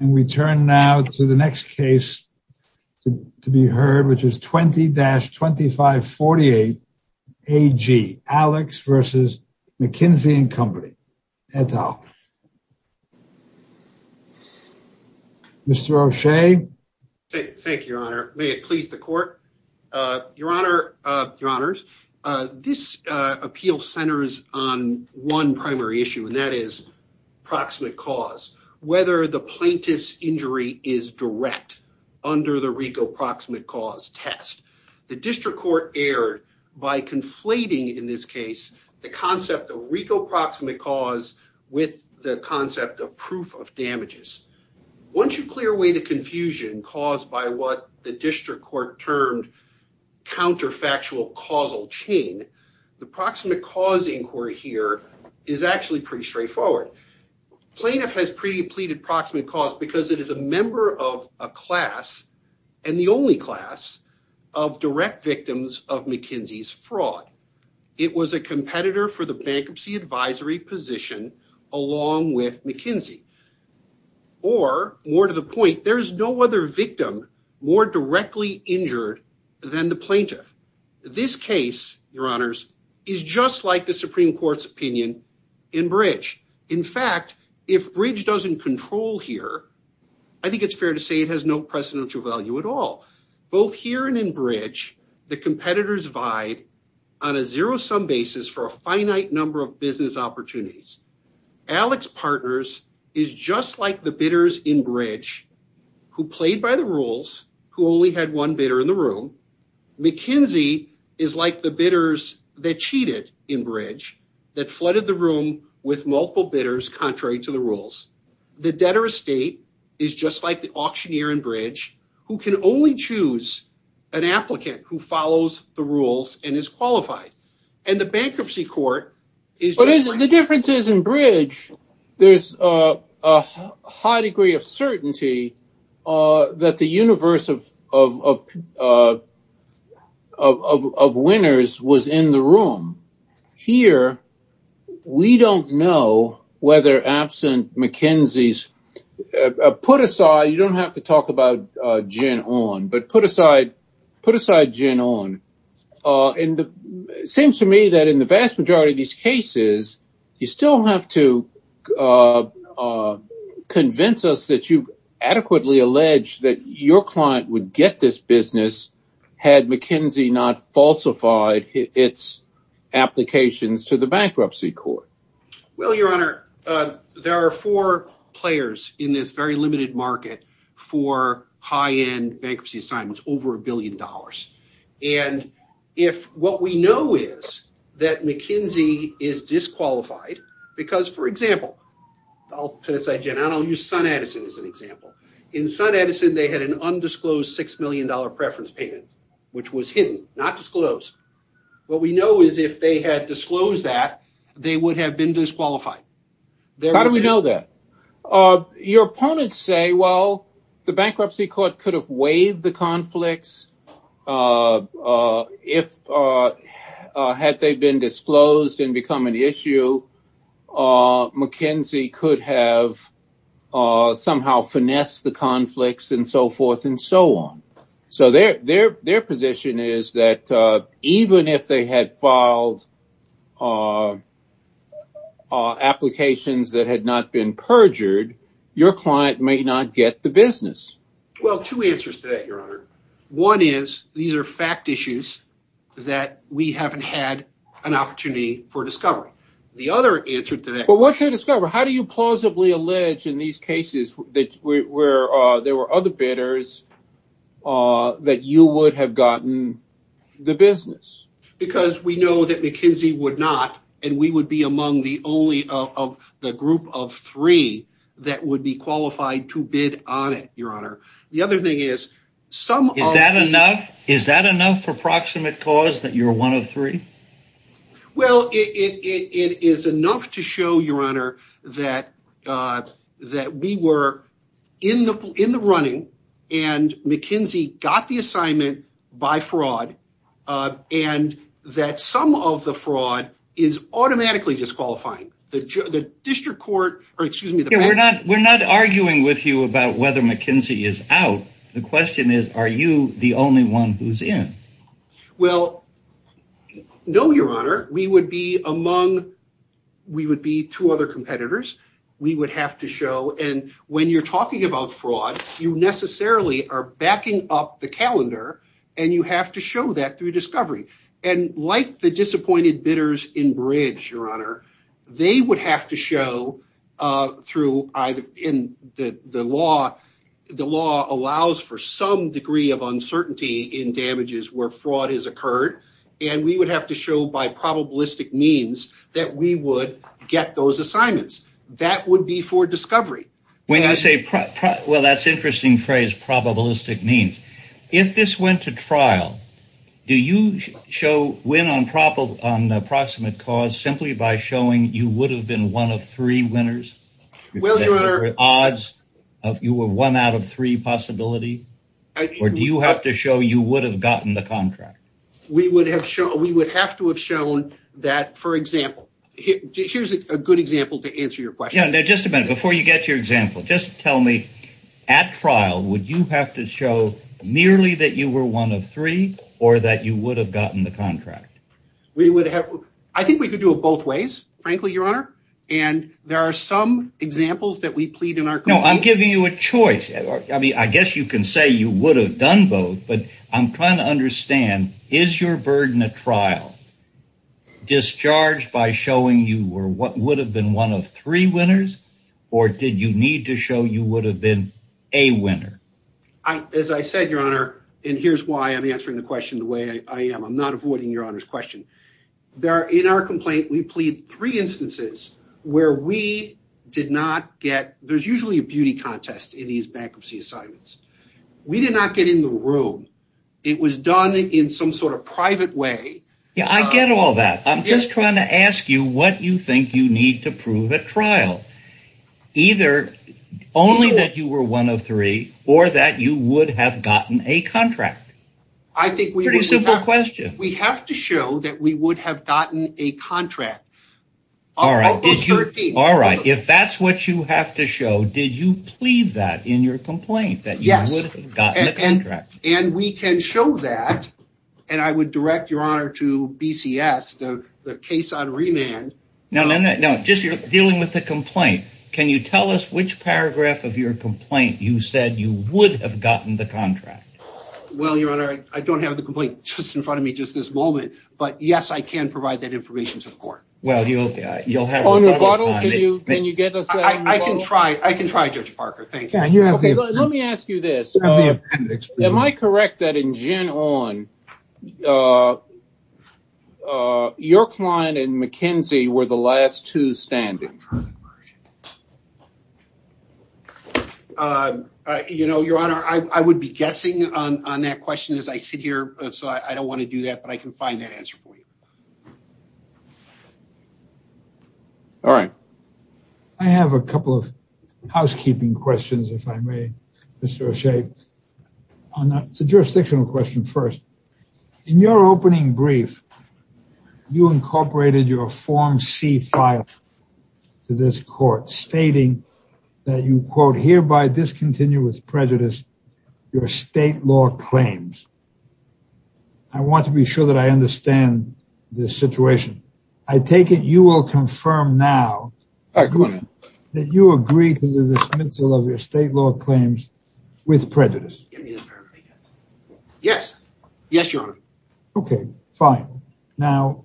And we turn now to the next case to be heard, which is 20-2548-AG, Alix v. McKinsey & Co., et al. Mr. O'Shea? Thank you, Your Honor. May it please the Court? Your Honor, Your Honors, this appeal centers on one primary issue, and that is proximate cause. Whether the plaintiff's injury is direct under the RICO proximate cause test. The District Court erred by conflating, in this case, the concept of RICO proximate cause with the concept of proof of damages. Once you clear away the confusion caused by what the District Court termed counterfactual causal chain, the proximate cause inquiry here is actually pretty straightforward. Plaintiff has pre-pleaded proximate cause because it is a member of a class, and the only class, of direct victims of McKinsey's fraud. It was a competitor for the bankruptcy advisory position along with McKinsey. Or, more to the point, there is no other victim more directly injured than the plaintiff. This case, Your Honors, is just like the Supreme Court's opinion in Bridge. In fact, if Bridge doesn't control here, I think it's fair to say it has no precedential value at all. Both here and in Bridge, the competitors vied on a zero-sum basis for a finite number of business opportunities. Alex Partners is just like the bidders in Bridge who played by the rules, who only had one bidder in the room. McKinsey is like the bidders that cheated in Bridge, that flooded the room with multiple bidders contrary to the rules. The debtor estate is just like the auctioneer in Bridge who can only choose an applicant who follows the rules and is qualified. And the bankruptcy court is- But the difference is in Bridge, there's a high degree of certainty that the universe of winners was in the room. Here, we don't know whether, absent McKinsey's put-aside, you don't have to talk about gin on, but put-aside gin on. It seems to me that in the vast majority of these cases, you still have to convince us that you've adequately alleged that your client would get this business had McKinsey not falsified its applications to the bankruptcy court. Well, your honor, there are four players in this very limited market for high-end bankruptcy assignments, over a billion dollars. And if what we know is that McKinsey is disqualified because, for example, I'll put aside gin on. I'll use SunEdison as an example. In SunEdison, they had an undisclosed $6 million preference payment, which was hidden, not disclosed. What we know is if they had disclosed that, they would have been disqualified. How do we know that? Your opponents say, well, the bankruptcy court could have waived the conflicts had they been disclosed and become an issue. McKinsey could have somehow finessed the conflicts and so forth and so on. So their position is that even if they had filed applications that had not been perjured, your client may not get the business. Well, two answers to that, your honor. One is these are fact issues that we haven't had an opportunity for discovery. The other answer to that. But once they discover, how do you plausibly allege in these cases that there were other bidders that you would have gotten the business? Because we know that McKinsey would not, and we would be among the only of the group of three that would be qualified to Is that enough? Is that enough for proximate cause that you're one of three? Well, it is enough to show your honor that we were in the running and McKinsey got the assignment by fraud and that some of the fraud is automatically disqualifying the district court or excuse me. We're not we're not arguing with you about whether McKinsey is out. The only one who's in? Well, no, your honor. We would be among. We would be two other competitors. We would have to show. And when you're talking about fraud, you necessarily are backing up the calendar and you have to show that through discovery. And like the disappointed bidders in Bridge, your honor, they would have to show through either in the law. The law allows for some degree of uncertainty in damages where fraud has occurred. And we would have to show by probabilistic means that we would get those assignments. That would be for discovery. When I say, well, that's interesting phrase. Probabilistic means if this went to trial, do you show win on probable on approximate cause simply by showing you would have been one of three winners with odds of you were one out of three possibility or do you have to show you would have gotten the contract? We would have shown we would have to have shown that, for example, here's a good example to answer your question. Now, just a minute before you get your example. Just tell me at trial, would you have to show merely that you were one of three or that you would have gotten the contract? We would have. I think we could do it both ways, frankly, your honor. And there are some examples that we plead in our. No, I'm giving you a choice. I mean, I guess you can say you would have done both, but I'm trying to understand, is your burden of trial discharged by showing you were what would have been one of three winners or did you need to show you would have been a winner? As I said, your honor, and here's why I'm answering the question the way I am. I'm not avoiding your honor's question. There are in our complaint, we plead three instances where we did not get. There's usually a beauty contest in these bankruptcy assignments. We did not get in the room. It was done in some sort of private way. Yeah, I get all that. I'm just trying to ask you what you think you need to prove at trial. Either only that you were one of three or that you would have gotten a contract. I think we have to show that we would have gotten a contract. All right. If that's what you have to show, did you plead that in your complaint that you would have gotten a contract? And we can show that. And I would direct your honor to BCS, the case on remand. No, no, no, no. Just you're dealing with the complaint. Can you tell us which paragraph of the complaint? I don't have the complaint just in front of me just this moment, but yes, I can provide that information to the court. Well, you'll have on your bottle. Can you get us? I can try. I can try. Judge Parker. Thank you. Let me ask you this. Am I correct that in gin on your client and McKinsey were the last two standing? Current version. You know, your honor, I would be guessing on that question as I sit here, so I don't want to do that, but I can find that answer for you. All right. I have a couple of housekeeping questions. If I may associate on that jurisdictional question first. In your opening brief, you incorporated your form C file to this court stating that you quote hereby discontinue with prejudice your state law claims. I want to be sure that I understand this situation. I take it you will confirm now that you agree to the dismissal of your state law claims with prejudice. Yes. Yes, your honor. Okay, fine. Now,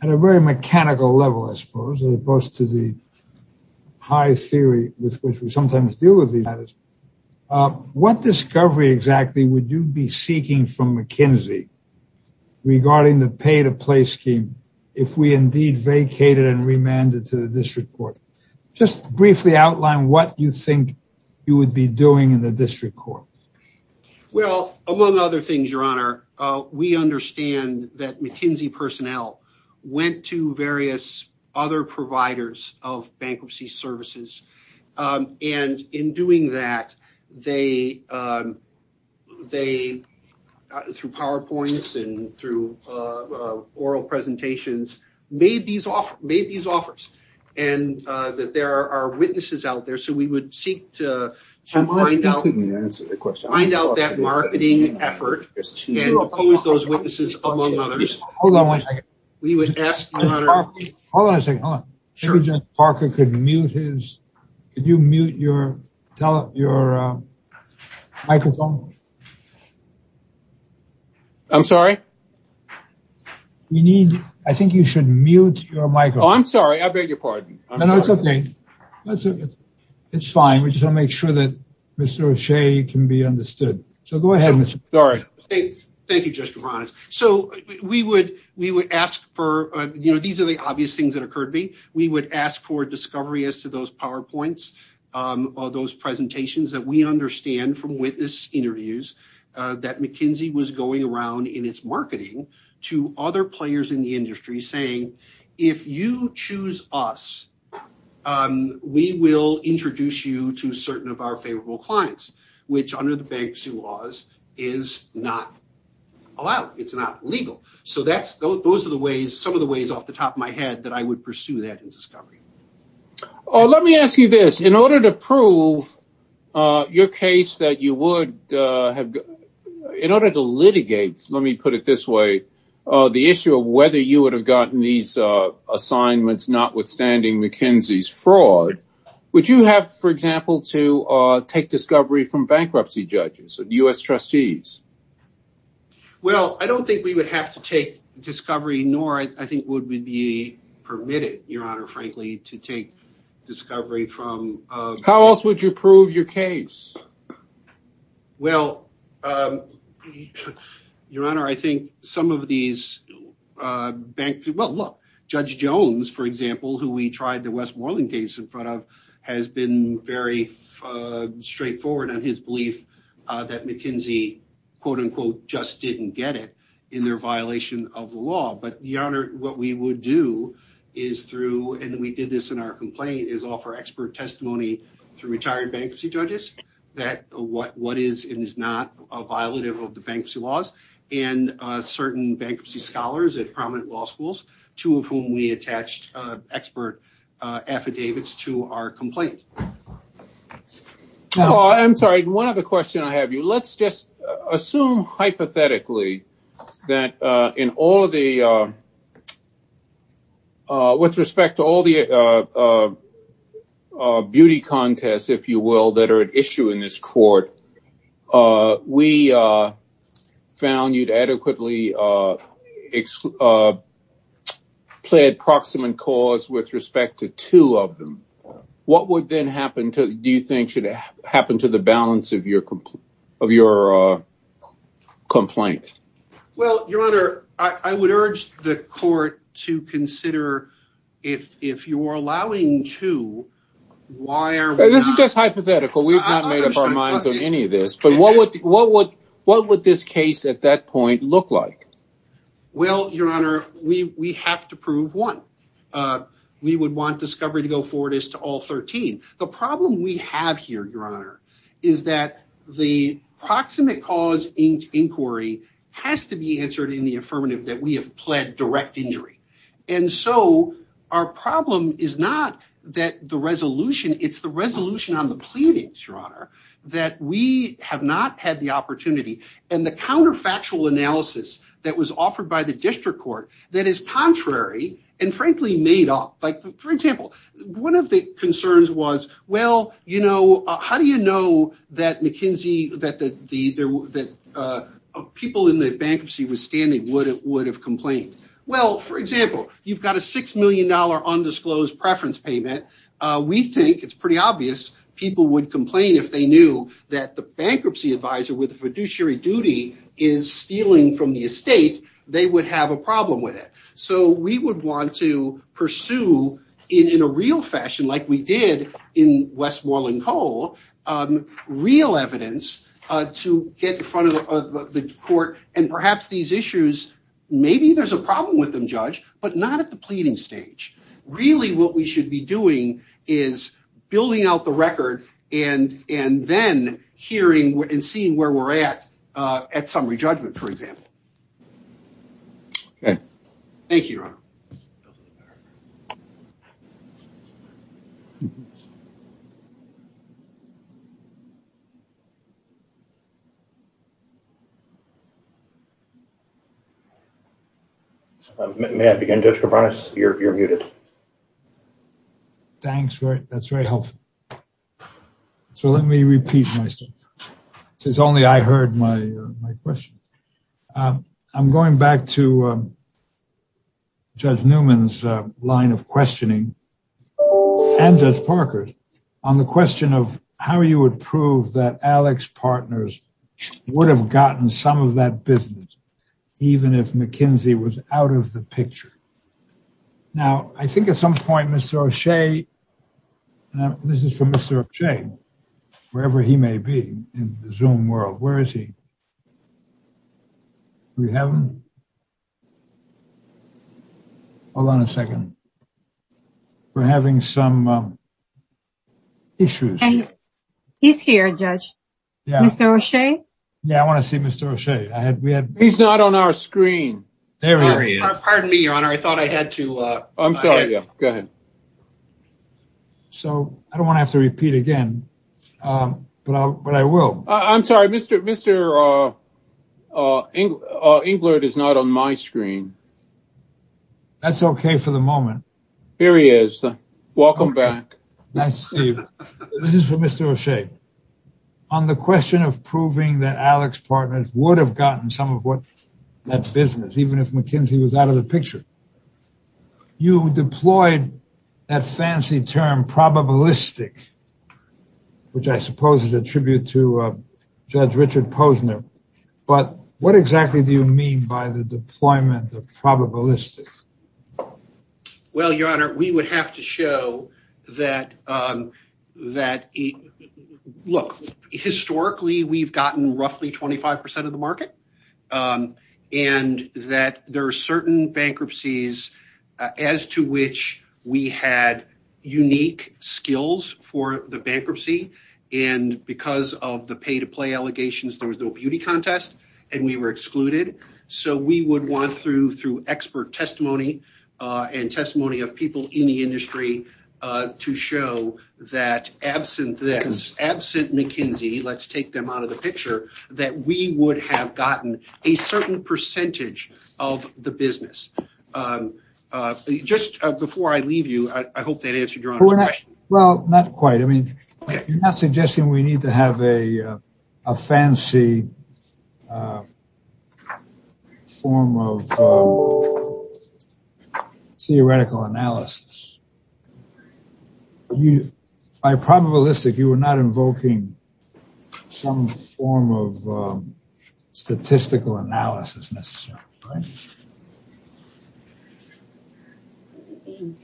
at a very mechanical level, I suppose, as opposed to the high theory with which we sometimes deal with these matters. What discovery exactly would you be seeking from McKinsey regarding the pay to play scheme if we indeed vacated and remanded to the district court? Just briefly outline what you think you Well, among other things, your honor, we understand that McKinsey personnel went to various other providers of bankruptcy services. And in doing that, they through PowerPoints and through oral presentations made these offers and that there are witnesses out there. So we would seek to find out that marketing effort and oppose those witnesses, among others. Hold on one second. Hold on a second. Hold on. Sure. Parker could mute his. Could you mute your microphone? I'm sorry? I think you should mute your microphone. Oh, I'm sorry. I beg your pardon. No, it's okay. It's fine. We just want to make sure that Mr. O'Shea can be understood. So go ahead, Mr. O'Shea. Sorry. Thank you, Justice Reynolds. So we would ask for, you know, these are the obvious things that occurred to me. We would ask for discovery as to those PowerPoints, those presentations that we understand from witness interviews that McKinsey was going around in its marketing to other players in the industry saying, if you choose us, we will introduce you to certain of our favorable clients, which under the bankruptcy laws is not allowed. It's not legal. So that's those are the ways, some of the ways off the top of my head that I would pursue that in discovery. Let me ask you this. In order to prove your case that you would have, in order to litigate, let me put it this way, the issue of whether you would have gotten these assignments, notwithstanding McKinsey's fraud, would you have, for example, to take discovery from bankruptcy judges, U.S. trustees? Well, I don't think we would have to take discovery, nor I think would we be permitted, Your Honor, frankly, to take discovery from... How else would you prove your case? Well, Your Honor, I think some of these bank... Well, look, Judge Jones, for example, who we tried the Westmoreland case in front of, has been very straightforward on his belief that McKinsey, quote unquote, just didn't get it in their violation of the law. But Your Honor, what we would do is through, and we did this in our complaint, is offer expert testimony through retired bankruptcy judges that what is and is not a violative of the bankruptcy laws and certain bankruptcy scholars at prominent law schools, two of whom we attached expert affidavits to our complaint. I'm sorry, one other question I have you. Let's just see. With respect to all the beauty contests, if you will, that are at issue in this court, we found you to adequately plead proximate cause with respect to two of them. What would then happen to... Do you think to consider if you're allowing two, why are we not... This is just hypothetical. We've not made up our minds on any of this, but what would this case at that point look like? Well, Your Honor, we have to prove one. We would want discovery to go forward as to all 13. The problem we have here, Your Honor, is that the proximate cause inquiry has to be answered in the affirmative that we have direct injury. Our problem is not that the resolution, it's the resolution on the pleading, Your Honor, that we have not had the opportunity and the counterfactual analysis that was offered by the district court that is contrary and, frankly, made up. For example, one of the concerns was, well, how do you know that McKinsey, that the people in the bankruptcy withstanding would have complained? Well, for example, you've got a $6 million undisclosed preference payment. We think it's pretty obvious people would complain if they knew that the bankruptcy advisor with the fiduciary duty is stealing from the estate, they would have a problem with it. We would want to pursue in a real fashion like we did in Westmoreland Cole, real evidence to get in front of the court and perhaps these issues, maybe there's a problem with them, Judge, but not at the pleading stage. Really what we should be doing is building out the record and then hearing and seeing where we're at at summary judgment, for example. May I begin, Judge Koubranos? You're muted. Thanks. That's very helpful. So let me repeat myself, since only I heard my question. I'm going back to Judge Newman's line of questioning and Judge Parker's on the question of how you would prove that Alex Partners would have gotten some of that business, even if McKinsey was out of the picture. Now, I think at some point, Mr. O'Shea, this is for Mr. O'Shea, wherever he may be in the Zoom world, where is he? Do we have him? Hold on a second. We're having some issues. He's here, Judge. Mr. O'Shea? Yeah, I want to see Mr. O'Shea. He's not on our screen. Pardon me, Your Honor. I thought I had to... I'm sorry. Yeah, go ahead. So I don't want to have to repeat again, but I will. I'm sorry, Mr. Englert is not on my screen. That's okay for the moment. Here he is. Welcome back. This is for Mr. O'Shea. On the question of proving that Alex Partners would have gotten some of what that business, even if McKinsey was out of the picture, you deployed that fancy term probabilistic, which I suppose is a tribute to Judge Richard Posner. But what exactly do you mean by the deployment of probabilistic? Well, Your Honor, we would have to show that... Look, historically, we've gotten roughly 25% of the market, and that there are certain bankruptcies as to which we had unique skills for the bankruptcy. And because of the pay-to-play allegations, there was no beauty contest, and we were excluded. So we would want, through expert testimony and testimony of people in the have gotten a certain percentage of the business. Just before I leave you, I hope that answered Your Honor's question. Well, not quite. I mean, you're not suggesting we need to have a fancy form of theoretical analysis. By probabilistic, you were not invoking some form of statistical analysis, necessarily, right?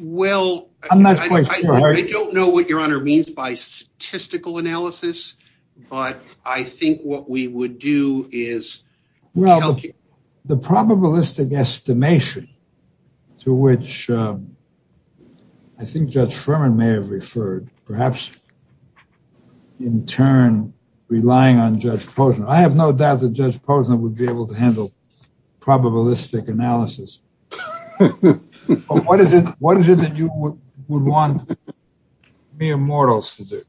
Well, I don't know what Your Honor means by statistical analysis, but I think what we would is... Well, the probabilistic estimation to which I think Judge Furman may have referred, perhaps in turn relying on Judge Posner. I have no doubt that Judge Posner would be able to handle probabilistic analysis. But what is it that you would want mere mortals to do?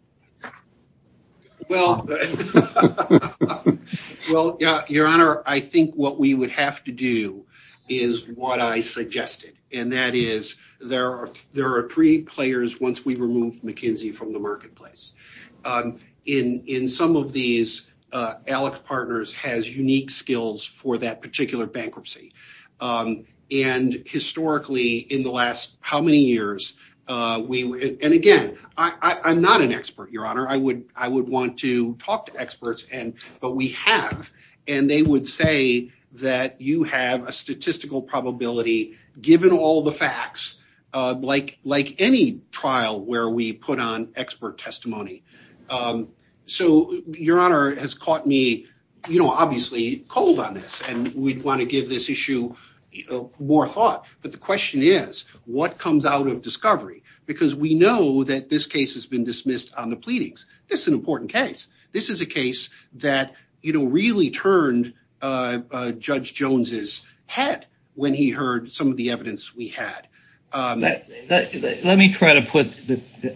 Well, Your Honor, I think what we would have to do is what I suggested, and that is there are three players once we remove McKinsey from the marketplace. In some of these, Alec Partners has unique skills for that particular bankruptcy. And historically, in the last how many years... And again, I'm not an expert, Your Honor. I would want to talk to experts, but we have, and they would say that you have a statistical probability given all the facts, like any trial where we put on expert testimony. So, Your Honor, it has caught me, obviously, cold on this, and we'd want to give this issue more thought. But the question is, what comes out of discovery? Because we know that this case has been dismissed on the pleadings. This is an important case. This is a case that really turned Judge Jones's head when he heard some of the evidence we had. Let me try to put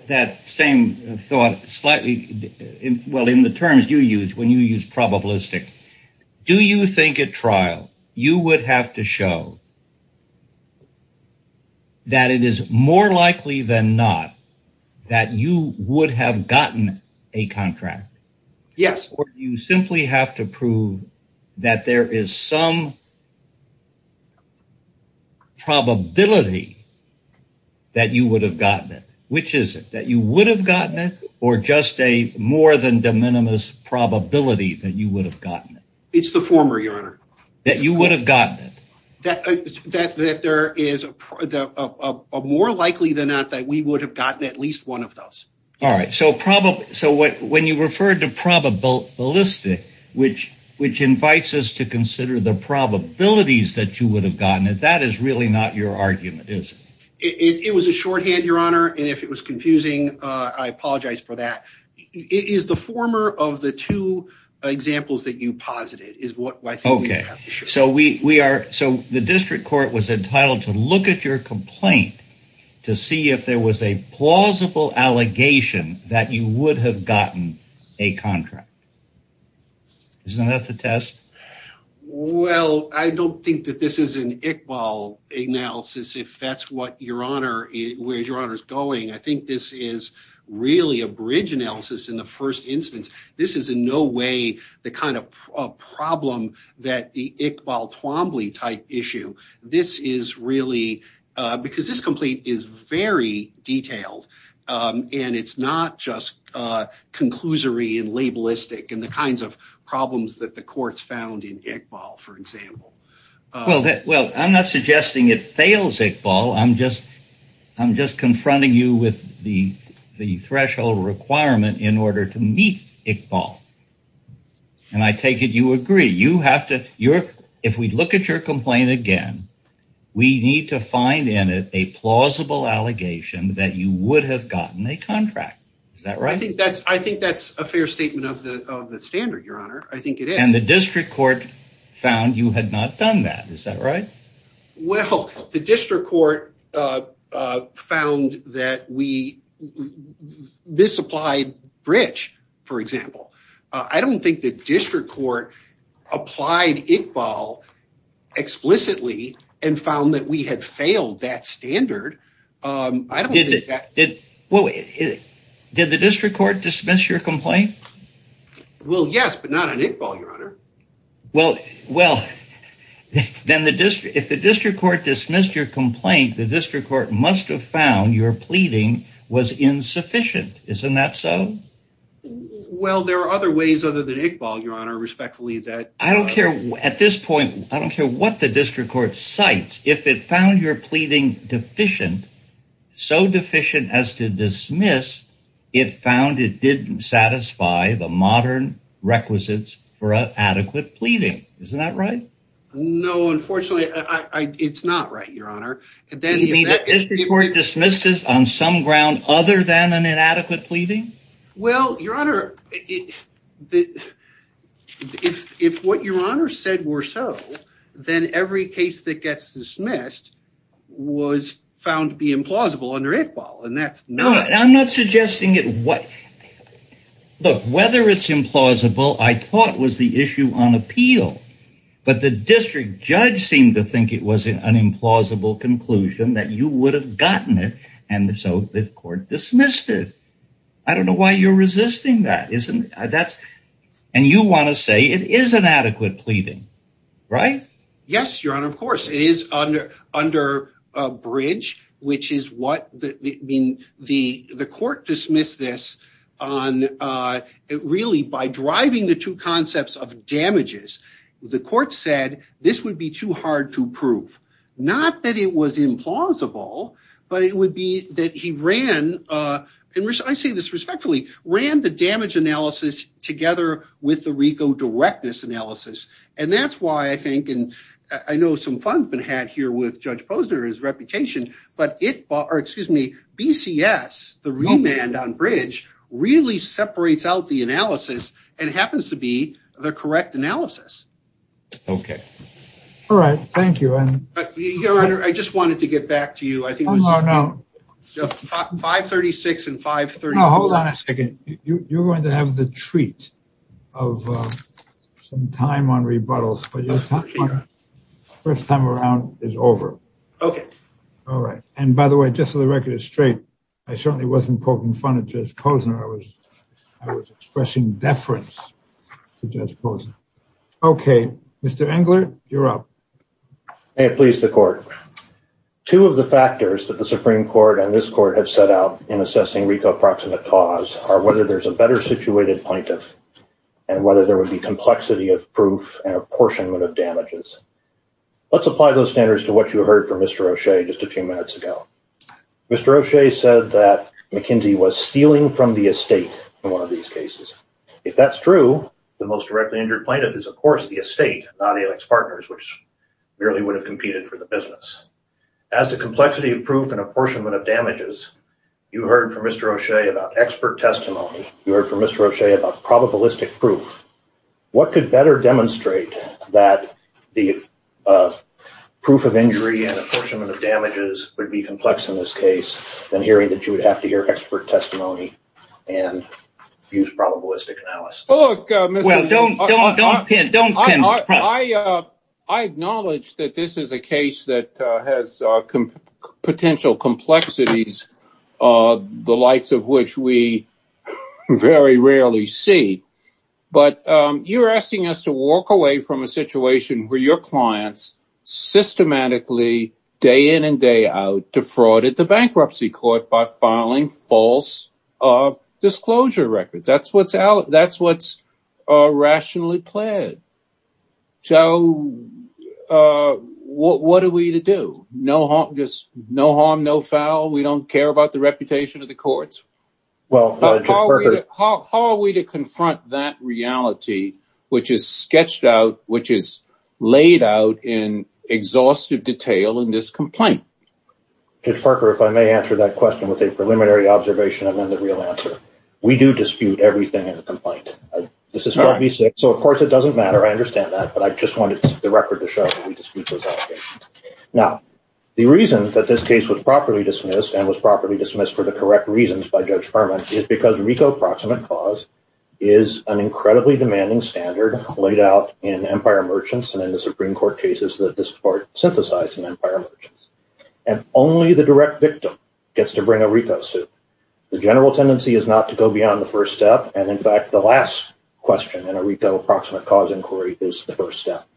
that same thought slightly... Well, in the terms you use, when you use probabilistic, do you think at trial you would have to show that it is more likely than not that you would have gotten a contract? Yes. Or do you simply have to prove that there is some probability that you would have gotten it? Which is it? That you would have gotten it, or just a more than de minimis probability that you would have gotten it? It's the former, Your Honor. That you would have gotten it? That there is a more likely than not that we would have gotten at least one of those. All right. So, when you refer to probabilistic, which invites us to consider the probabilities that you would have gotten it, that is really not your argument, is it? It was a shorthand, Your Honor. And if it was confusing, I apologize for that. It is the former of the two examples that you posited is what I think we have to show. Okay. So, the district court was entitled to look at your complaint to see if there was a plausible allegation that you would have gotten a contract. Isn't that the test? Well, I don't think that this is an Iqbal analysis, if that's where Your Honor is going. I think this is really a bridge analysis in the first instance. This is in no way the kind of problem that the Iqbal Twombly type issue. This is really, because this complaint is very detailed, and it's not just conclusory and labelistic and the kinds of problems that the courts found in Iqbal, for example. Well, I'm not suggesting it fails Iqbal. I'm just confronting you with the threshold requirement in order to meet Iqbal. And I take it you agree. If we look at your complaint again, we need to find in it a plausible allegation that you would have gotten a contract. Is that right? I think that's a fair statement of the standard, Your Honor. I think it is. And the district court found you had not done that. Is that right? Well, the district court found that we misapplied bridge, for example. I don't think the district court applied Iqbal explicitly and found that we had failed that standard. Did the district court dismiss your complaint? Well, yes, but not on Iqbal, Your Honor. Well, then the district court dismissed your complaint, the district court must have found your pleading was insufficient. Isn't that so? Well, there are other ways other than Iqbal, Your Honor, respectfully. At this point, I don't care what the district court cites. If it found your pleading deficient, so deficient as to dismiss, it found it didn't satisfy the modern requisites for adequate pleading. Isn't that right? No, unfortunately, it's not right, Your Honor. Did the district court dismiss this on some ground other than an inadequate pleading? Well, Your Honor, if what Your Honor said were so, then every case that gets dismissed was found to be implausible under Iqbal, and that's not... Look, whether it's implausible, I thought was the issue on appeal, but the district judge seemed to think it was an implausible conclusion that you would have gotten it, and so the court dismissed it. I don't know why you're resisting that, and you want to say it is inadequate pleading, right? Yes, Your Honor, of course. It is under a bridge, which is what... The court dismissed this really by driving the two concepts of damages. The court said this would be too hard to prove, not that it was implausible, but it would be that he ran, and I say this respectfully, ran the damage analysis together with the RICO directness analysis, and that's why I know some fun's been had here with Judge Posner, his reputation, but BCS, the remand on bridge, really separates out the analysis and happens to be the correct analysis. Okay. All right. Thank you. I just wanted to get back to you. I think it was 536 and 534. Hold on a second. You're going to have the treat of some time on rebuttals, but your first time around is over. Okay. All right, and by the way, just so the record is straight, I certainly wasn't poking fun at Judge Posner. I was expressing deference to Judge Posner. Okay, Mr. Engler, you're up. May it please the court. Two of the factors that the Supreme Court and this court have set out in assessing RICO approximate cause are whether there's a better situated plaintiff and whether there would be complexity of proof and apportionment of damages. Let's apply those standards to what you heard from Mr. O'Shea just a few minutes ago. Mr. O'Shea said that McKenzie was stealing from the estate in one of these cases. If that's true, the most directly injured plaintiff is, of course, the estate, not Alix Partners, which merely would have competed for business. As to complexity of proof and apportionment of damages, you heard from Mr. O'Shea about expert testimony. You heard from Mr. O'Shea about probabilistic proof. What could better demonstrate that the proof of injury and apportionment of damages would be complex in this case than hearing that you would have to hear expert testimony and use probabilistic analysis? Well, don't don't don't don't. I I acknowledge that this is a case that has potential complexities, the likes of which we very rarely see. But you're asking us to walk away from a situation where your clients systematically day in and day out defrauded the bankruptcy court by filing false disclosure records. That's what's out. That's what's rationally pled. So what are we to do? No harm, no foul. We don't care about the reputation of the courts. How are we to confront that reality, which is sketched out, which is laid out in exhaustive detail in this complaint? Judge Parker, if I may answer that question with a preliminary observation and then the real answer, we do dispute everything in the complaint. This is what we say. So, of course, it doesn't matter. I understand that. But I just wanted the record to show we dispute those allegations. Now, the reason that this case was properly dismissed and was properly dismissed for the correct reasons by Judge Furman is because RICO proximate clause is an incredibly demanding standard laid out in Empire Merchants and in the Supreme Court cases that this court synthesized in Empire Merchants. And only the direct victim gets to bring a RICO suit. The general tendency is not to go beyond the first step. And in fact, the last question in a RICO approximate cause inquiry is the first step.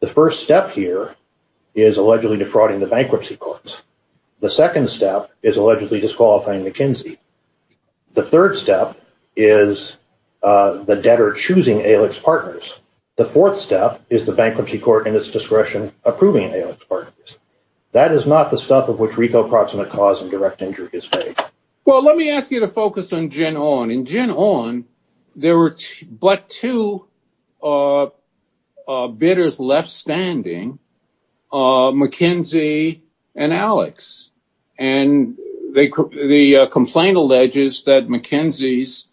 The first step here is allegedly defrauding the bankruptcy courts. The second step is allegedly disqualifying McKinsey. The third step is the debtor choosing Alix Partners. The fourth step is the bankruptcy court in its discretion approving Alix Partners. That is not the stuff of which RICO approximate cause and direct injury is made. Well, let me ask you to focus on Gen On. In Gen On, there were but two bidders left standing, McKinsey and Alix. And the complaint alleges that McKinsey's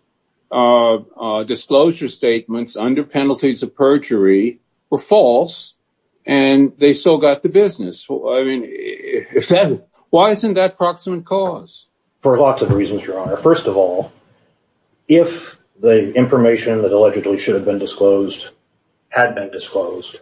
disclosure statements under penalties of perjury were false and they still got the business. I mean, why isn't that approximate cause? For lots of reasons, Your Honor. First of all, if the information that allegedly should have been disclosed had been disclosed,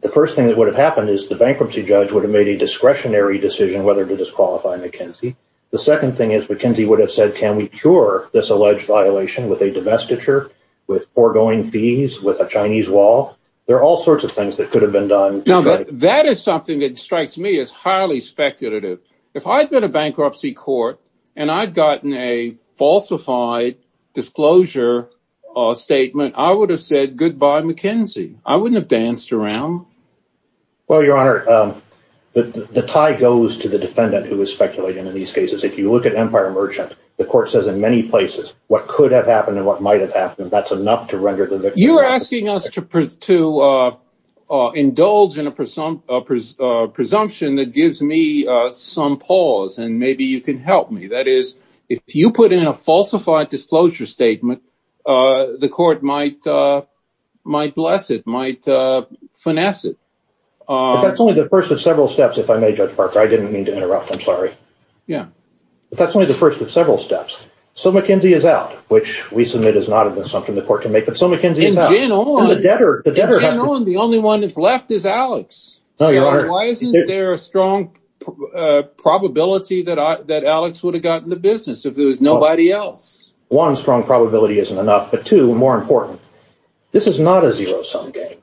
the first thing that would have happened is the bankruptcy judge would have made a discretionary decision whether to disqualify McKinsey. The second thing is McKinsey would have said, can we cure this alleged violation with a divestiture, with foregoing fees, with a Chinese wall? There are all sorts of things that could have been done. Now, that is something that strikes me as highly speculative. If I'd been a bankruptcy court and I'd gotten a falsified disclosure statement, I would have said goodbye, McKinsey. I wouldn't have danced around. Well, Your Honor, the tie goes to the defendant who was speculating in these cases. If you look at Empire Merchant, the court says in many places what could have happened and what might have happened. To indulge in a presumption that gives me some pause and maybe you can help me, that is, if you put in a falsified disclosure statement, the court might bless it, might finesse it. But that's only the first of several steps, if I may, Judge Parker. I didn't mean to interrupt. I'm sorry. Yeah. But that's only the first of several steps. So McKinsey is out, which we know. The only one that's left is Alex. Why isn't there a strong probability that Alex would have gotten the business if there was nobody else? One, strong probability isn't enough. But two, more important, this is not a zero-sum game.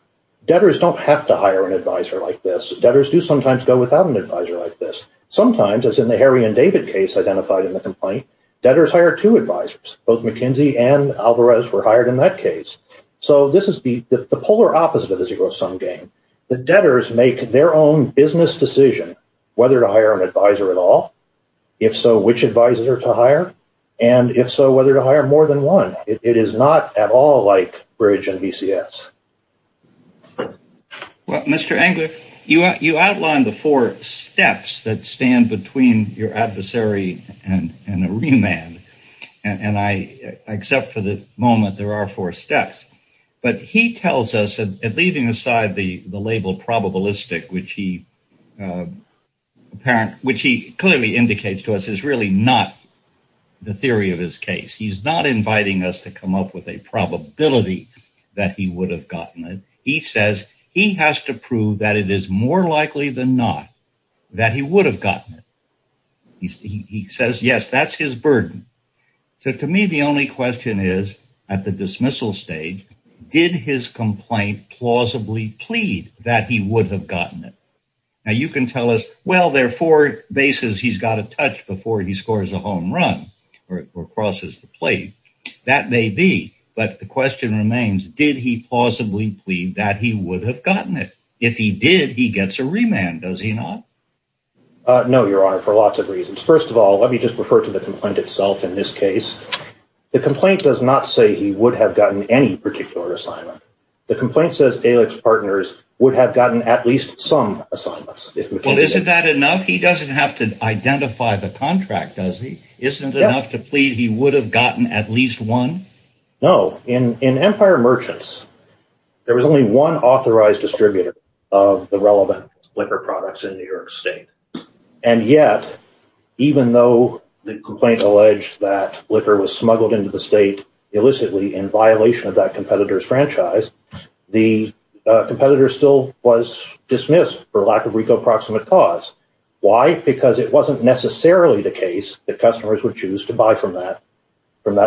Debtors don't have to hire an advisor like this. Debtors do sometimes go without an advisor like this. Sometimes, as in the Harry and David case identified in the complaint, debtors hire two advisors. Both McKinsey and Alvarez were hired in that case. So this is the polar opposite of a zero-sum game. The debtors make their own business decision whether to hire an advisor at all, if so, which advisor to hire, and if so, whether to hire more than one. It is not at all like Bridge and BCS. Well, Mr. Engler, you outlined the four steps that stand between your adversary and a remand. And I accept for the moment there are four steps. But leaving aside the label probabilistic, which he clearly indicates to us is really not the theory of his case. He's not inviting us to come up with a probability that he would have gotten it. He says he has to prove that it is more likely than not that he would have gotten it. He says, yes, that's his burden. So to me, the only question is at the dismissal stage, did his complaint plausibly plead that he would have gotten it? Now, you can tell us, well, there are four bases he's got to touch before he scores a home run or crosses the plate. That may be, but the question remains, did he plausibly plead that he would have gotten it? If he did, he gets a remand, does he not? No, Your Honor, for lots of reasons. First of all, let me just refer to the complaint itself. In this case, the complaint does not say he would have gotten any particular assignment. The complaint says Alix Partners would have gotten at least some assignments. Well, isn't that enough? He doesn't have to identify the contract, does he? Isn't it enough to plead he would have gotten at least one? No. In Empire Merchants, there was only one liquor product in New York State. And yet, even though the complaint alleged that liquor was smuggled into the state illicitly in violation of that competitor's franchise, the competitor still was dismissed for lack of RICO proximate cause. Why? Because it wasn't necessarily the case that customers would choose to buy from that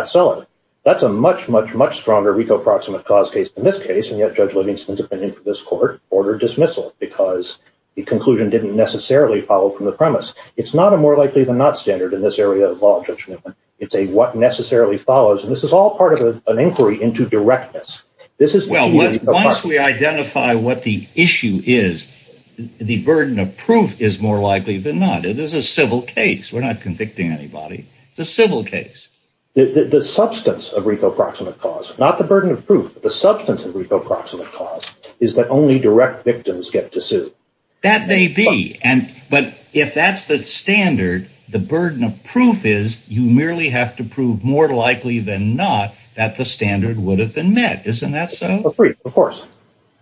seller. That's a much, much, much stronger RICO proximate cause case than this case. And yet, Judge Livingston, depending on this court, ordered dismissal because the conclusion didn't necessarily follow from the premise. It's not a more likely than not standard in this area of law, Judge Newman. It's a what necessarily follows. And this is all part of an inquiry into directness. Once we identify what the issue is, the burden of proof is more likely than not. It is a civil case. We're not convicting anybody. It's a civil case. The substance of RICO proximate cause, not the burden of proof, but the substance of RICO proximate cause, is that only direct victims get to sue. That may be. But if that's the standard, the burden of proof is you merely have to prove more likely than not that the standard would have been met. Isn't that so? Of course.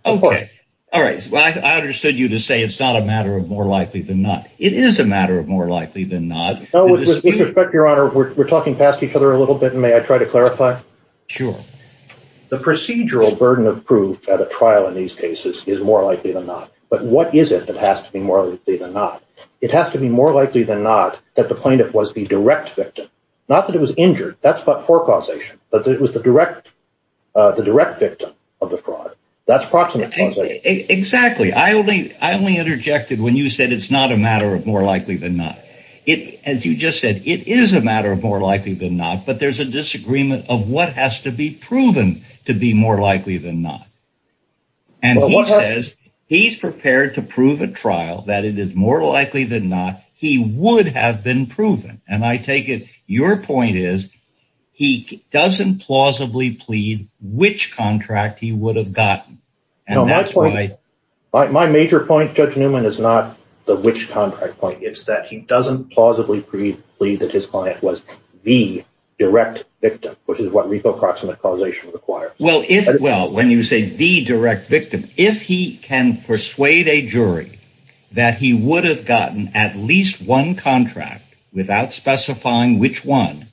Okay. All right. Well, I understood you to say it's not a matter of more likely than not. It is a matter of more likely than not. With respect, Your Honor, we're talking past each other a little bit, and may I try to clarify? Sure. The procedural burden of proof at a trial in these cases is more likely than not. But what is it that has to be more likely than not? It has to be more likely than not that the plaintiff was the direct victim, not that it was injured. That's but forecausation. But it was the direct victim of the fraud. That's proximate causation. Exactly. I only interjected when you said it's a matter of more likely than not. As you just said, it is a matter of more likely than not. But there's a disagreement of what has to be proven to be more likely than not. And he says he's prepared to prove at trial that it is more likely than not he would have been proven. And I take it your point is he doesn't plausibly plead which contract he would have gotten. My major point, Judge Newman, is not the which contract point. It's that he doesn't plausibly plead that his client was the direct victim, which is what reproximate causation requires. Well, when you say the direct victim, if he can persuade a jury that he would have gotten at least one contract without specifying which one,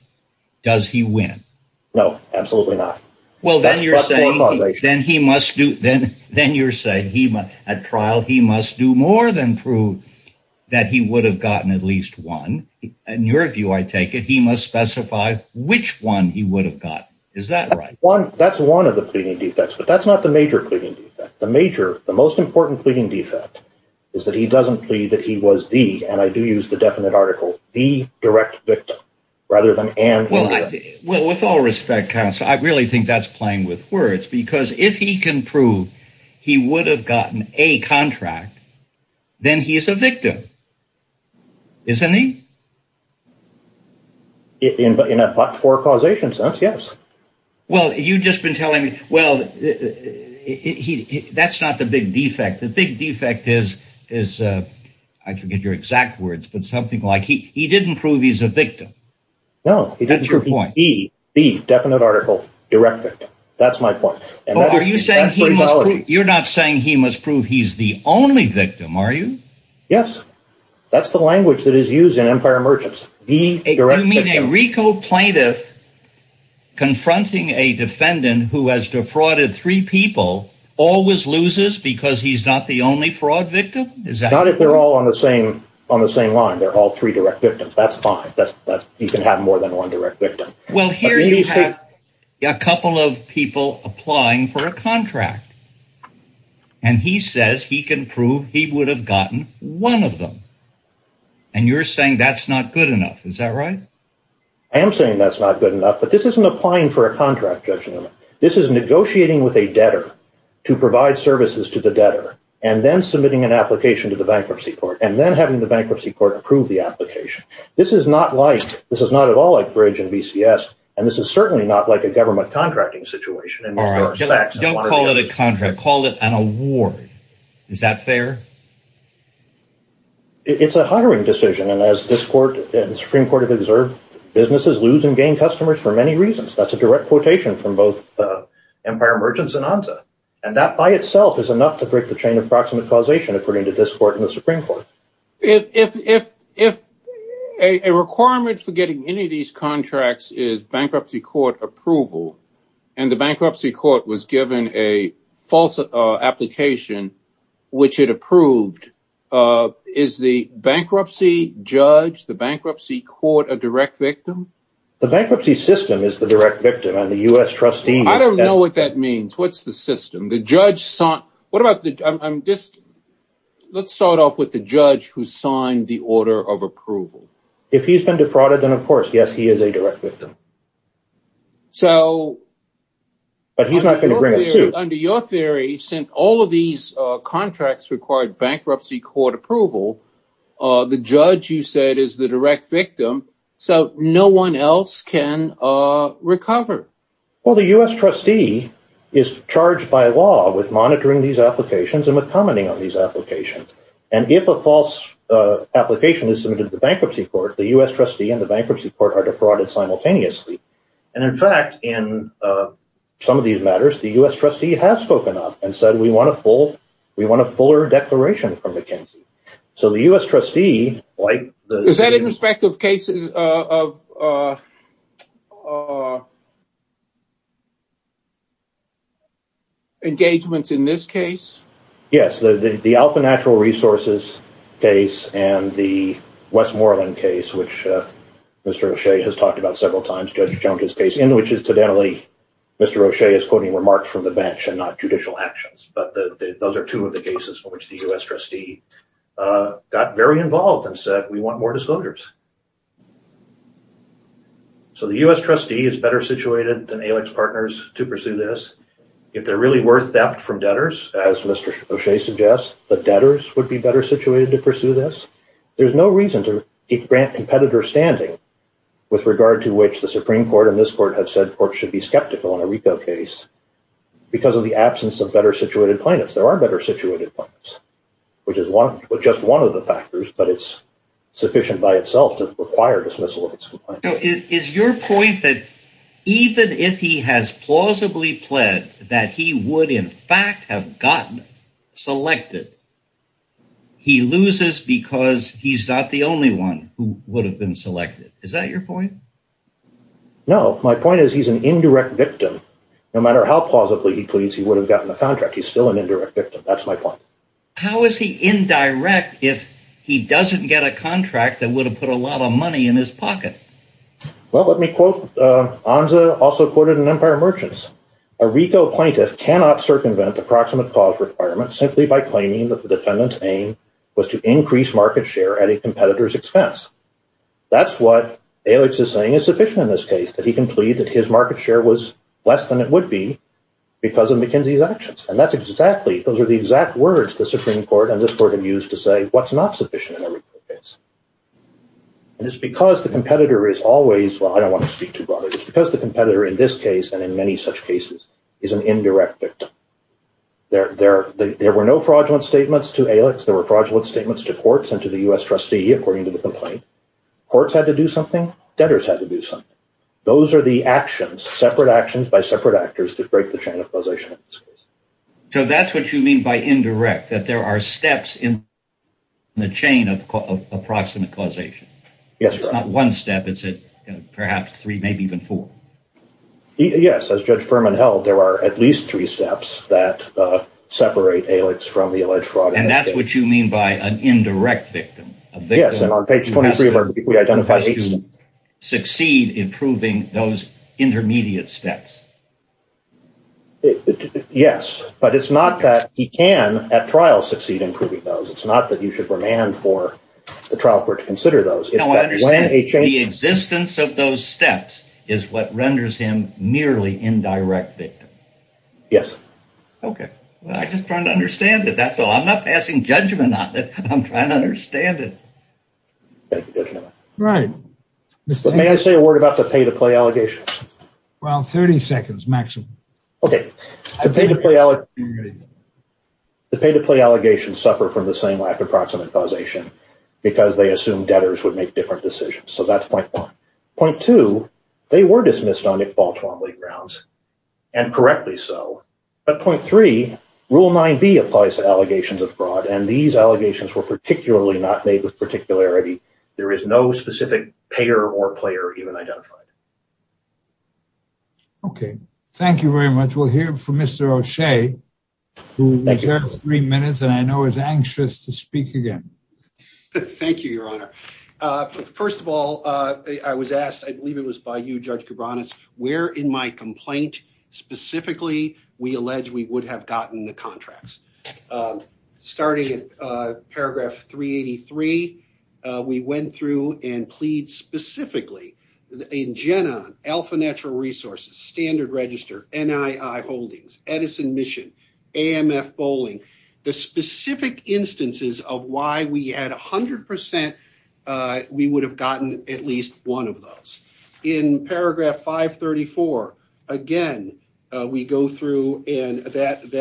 does he win? No, absolutely not. Well, then you're saying then he must do then. Then you're saying he at trial, he must do more than prove that he would have gotten at least one. And your view, I take it he must specify which one he would have got. Is that right? That's one of the pleading defects. But that's not the major pleading defect. The major the most important pleading defect is that he doesn't plead that he was the and I do use the definite article, the direct victim rather than and. Well, with all respect, counsel, I really think that's playing with words, because if he can prove he would have gotten a contract, then he is a victim. Isn't he? In a for causation sense, yes. Well, you just been telling me, well, that's not the big defect. The big defect is is I forget your exact words, but something like he didn't prove he's a victim. No, that's your point. The definite article directed. That's my point. You're not saying he must prove he's the only victim, are you? Yes. That's the language that is used in empire merchants. The direct meeting Rico plaintiff. Confronting a defendant who has defrauded three people always loses because he's not the only fraud victim. Is that not if they're all on the same on the same line, they're all three direct victims. That's fine. You can have more than one direct victim. Well, here you have a couple of people applying for a contract and he says he can prove he would have gotten one of them. And you're saying that's not good enough. Is that right? I am saying that's not good enough, but this isn't applying for a contract. This is negotiating with a debtor to provide services to the debtor and then submitting an application. This is not like this is not at all like bridge and BCS. And this is certainly not like a government contracting situation. Don't call it a contract. Call it an award. Is that fair? It's a hiring decision. And as this court and Supreme Court have observed, businesses lose and gain customers for many reasons. That's a direct quotation from both empire merchants and onza. And that by itself is enough to break the chain of causation, according to this court in the Supreme Court. If a requirement for getting any of these contracts is bankruptcy court approval and the bankruptcy court was given a false application, which it approved, is the bankruptcy judge, the bankruptcy court, a direct victim? The bankruptcy system is the direct victim and the U.S. trustee. I don't know what that means. What's the system? The judge sought. What about this? Let's start off with the judge who signed the order of approval. If he's been defrauded, then, of course, yes, he is a direct victim. So. But he's not going to bring a suit. Under your theory, since all of these contracts required bankruptcy court approval, the judge, you said, is the direct victim. So no one else can recover. Well, the U.S. trustee is charged by law with monitoring these applications and with commenting on these applications. And if a false application is submitted to the bankruptcy court, the U.S. trustee and the bankruptcy court are defrauded simultaneously. And in fact, in some of these matters, the U.S. trustee has spoken up and said, we want a full we want a fuller declaration from our. Engagements in this case, yes, the Alfa Natural Resources case and the Westmoreland case, which Mr. O'Shea has talked about several times, Judge Jones's case, in which incidentally, Mr. O'Shea is quoting remarks from the bench and not judicial actions. But those are two of the cases in which the U.S. trustee got very involved and said, we want more disclosures. So the U.S. trustee is better situated than ALEC's partners to pursue this. If there really were theft from debtors, as Mr. O'Shea suggests, the debtors would be better situated to pursue this. There's no reason to grant competitor standing with regard to which the Supreme Court and this court have said should be skeptical in a repo case because of the absence of better situated plaintiffs. There are better situated plaintiffs, which is just one of the factors, but it's sufficient by itself to require dismissal. Is your point that even if he has plausibly pled that he would in fact have gotten selected? He loses because he's not the only one who would have been selected. Is that your point? No, my point is he's an indirect victim. No matter how positively he pleads, he would have gotten the contract. He's still an indirect victim. That's my point. How is he indirect if he doesn't get a contract that would have put a lot of money in his pocket? Well, let me quote Anza, also quoted in Empire Merchants. A repo plaintiff cannot circumvent the proximate cause requirement simply by claiming that the defendant's aim was to increase market share at a competitor's expense. That's what ALEC is saying is sufficient in this case, that he can plead that his market share was less than it would be because of McKinsey's actions. Those are the exact words the Supreme Court and this court have used to say what's not sufficient in a repo case. It's because the competitor is always, well, I don't want to speak too broadly. It's because the competitor in this case and in many such cases is an indirect victim. There were no fraudulent statements to ALEC. There were fraudulent statements to courts and to the US trustee according to the complaint. Courts had to do something. Debtors had to do something. Those are the actions, separate actions by separate actors to break the chain of causation in this case. So that's what you mean by indirect, that there are steps in the chain of approximate causation. Yes. It's not one step. It's perhaps three, maybe even four. Yes. As Judge Furman held, there are at least three steps that separate ALEC from the alleged fraud. And that's what you mean by an indirect victim? Yes. And on page 23 of our Yes. But it's not that he can at trial succeed in proving those. It's not that you should remand for the trial court to consider those. The existence of those steps is what renders him merely indirect victim. Yes. Okay. I'm just trying to understand that. That's all. I'm not passing judgment on it. I'm trying to understand it. Right. May I say a word about the pay-to-play allegations? Well, 30 seconds, maximum. Okay. The pay-to-play allegations suffer from the same lack of approximate causation because they assume debtors would make different decisions. So that's point one. Point two, they were dismissed on Nick Baltimore league rounds, and correctly so. But point three, Rule 9b applies to allegations of fraud. And these allegations were particularly not made with particularity. There is no specific payer or player even identified. Okay. Thank you very much. We'll hear from Mr. O'Shea, who has three minutes and I know is anxious to speak again. Thank you, Your Honor. First of all, I was asked, I believe it was by you, Judge Cabranes, where in my complaint specifically we allege we would have gotten the contracts. Starting at paragraph 383, we went through and plead specifically in Genon, Alpha Natural Resources, Standard Register, NII Holdings, Edison Mission, AMF Bowling, the specific instances of why we had 100% we would have gotten at least one of those. In paragraph 534, again, we go through and plead.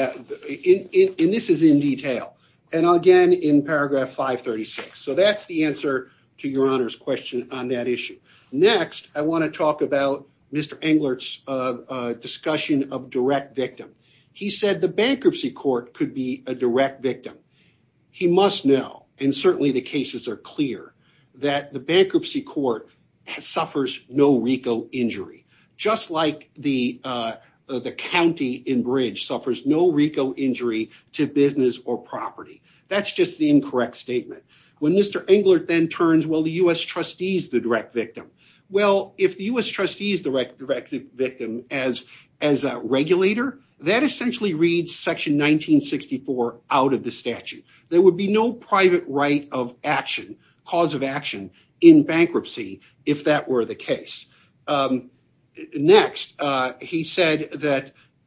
And this is in detail. And again, in paragraph 536. So that's the answer to Your Honor's question on that issue. Next, I want to talk about Mr. Englert's discussion of direct victim. He said the bankruptcy court could be a direct victim. He must know, and certainly the cases are clear, that the bankruptcy court suffers no RICO injury, just like the county in Bridge suffers no RICO injury to business or property. That's just the incorrect statement. When Mr. Englert then turns, well, the U.S. trustee is the direct victim. Well, if the U.S. trustee is the direct victim as a regulator, that essentially reads section 1964 out of the statute. There would be no private right of action, cause of action, in bankruptcy if that were the case. Next, he said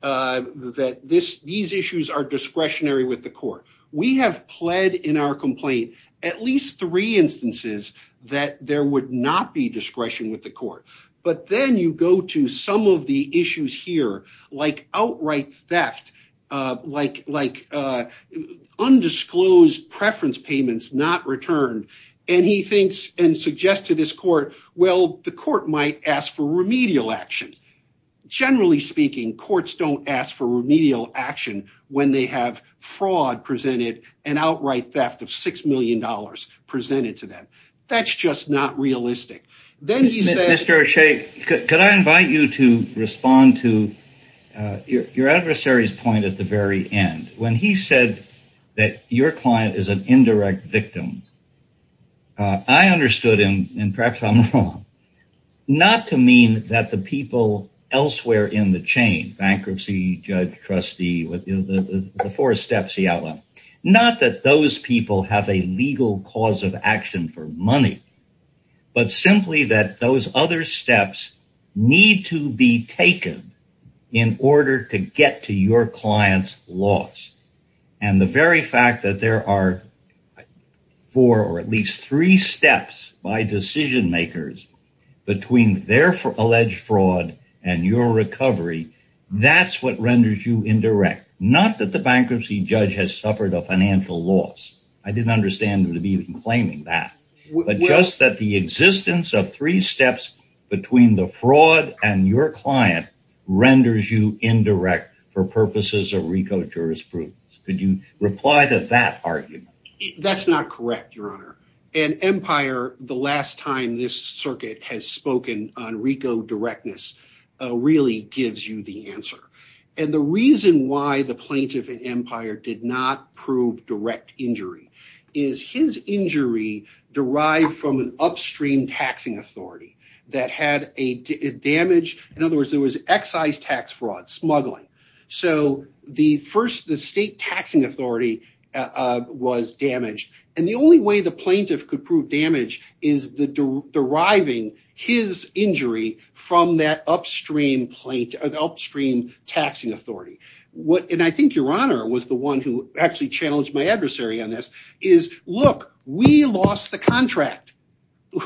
that these issues are discretionary with the court. We have pled in our complaint at least three instances that there would not be discretion with the court. But then you go to some of the issues here, like outright theft, like undisclosed preference payments not returned. And he thinks and suggests to this court, well, the court might ask for remedial action. Generally speaking, courts don't ask for remedial action when they have fraud presented and outright theft of $6 million presented to them. That's just not realistic. Then he said... Mr. O'Shea, could I invite you to respond to your adversary's point at the very end. When he said that your client is an indirect victim, I understood him, and perhaps I'm wrong, not to mean that the people elsewhere in the chain, bankruptcy, judge, trustee, the four steps he outlined, not that those people have a legal cause of action for money, but simply that those other steps need to be taken in order to get to your client's loss. And the very fact that there are four or at least three steps by decision-makers between their alleged fraud and your recovery, that's what renders you indirect. Not that the bankruptcy judge has suffered a financial loss. I didn't understand him even claiming that. But just that the existence of three steps between the fraud and your client renders you indirect for purposes of RICO jurisprudence. Could you reply to that argument? That's not correct, your honor. And Empire, the last time this circuit has spoken on RICO directness, really gives you the answer. And the reason why the plaintiff in Empire did not prove direct injury is his injury derived from an upstream taxing authority that had a damage, in other words, there was excise tax fraud, smuggling. So the first, the state taxing authority was damaged. And the only way the plaintiff could prove damage is the deriving his injury from that upstream taxing authority. And I think your honor was the one who actually challenged my adversary on this is, look, we lost the contract.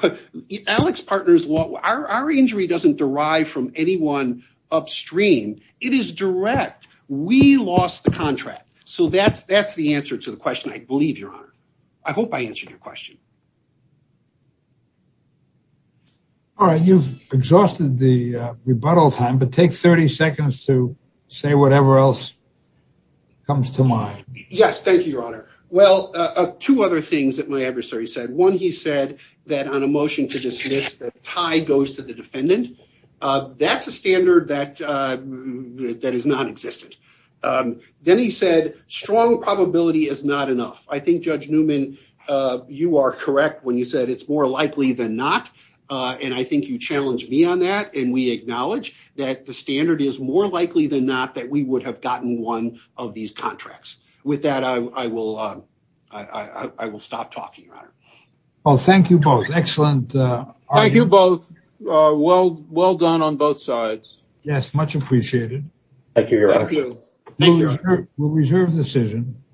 Our injury doesn't derive from anyone upstream. It is direct. We lost the contract. So that's the answer to the question, I believe, your honor. I hope I answered your question. All right, you've exhausted the rebuttal time, but take 30 seconds to say whatever else comes to mind. Yes, thank you, your honor. Well, two other things that my adversary said. One, he said that on a motion to dismiss, the tie goes to the defendant. That's a standard that is nonexistent. Then he said strong probability is not enough. I think, Judge Newman, you are correct when you said it's more likely than not. And I think you challenged me on that. And we acknowledge that the standard is more likely than not that we would have gotten one of these contracts. With that, I will stop talking, your honor. Well, thank you both. Excellent. Thank you both. Well done on both sides. Yes, much appreciated. Thank you, your honor. Thank you. We'll reserve the decision.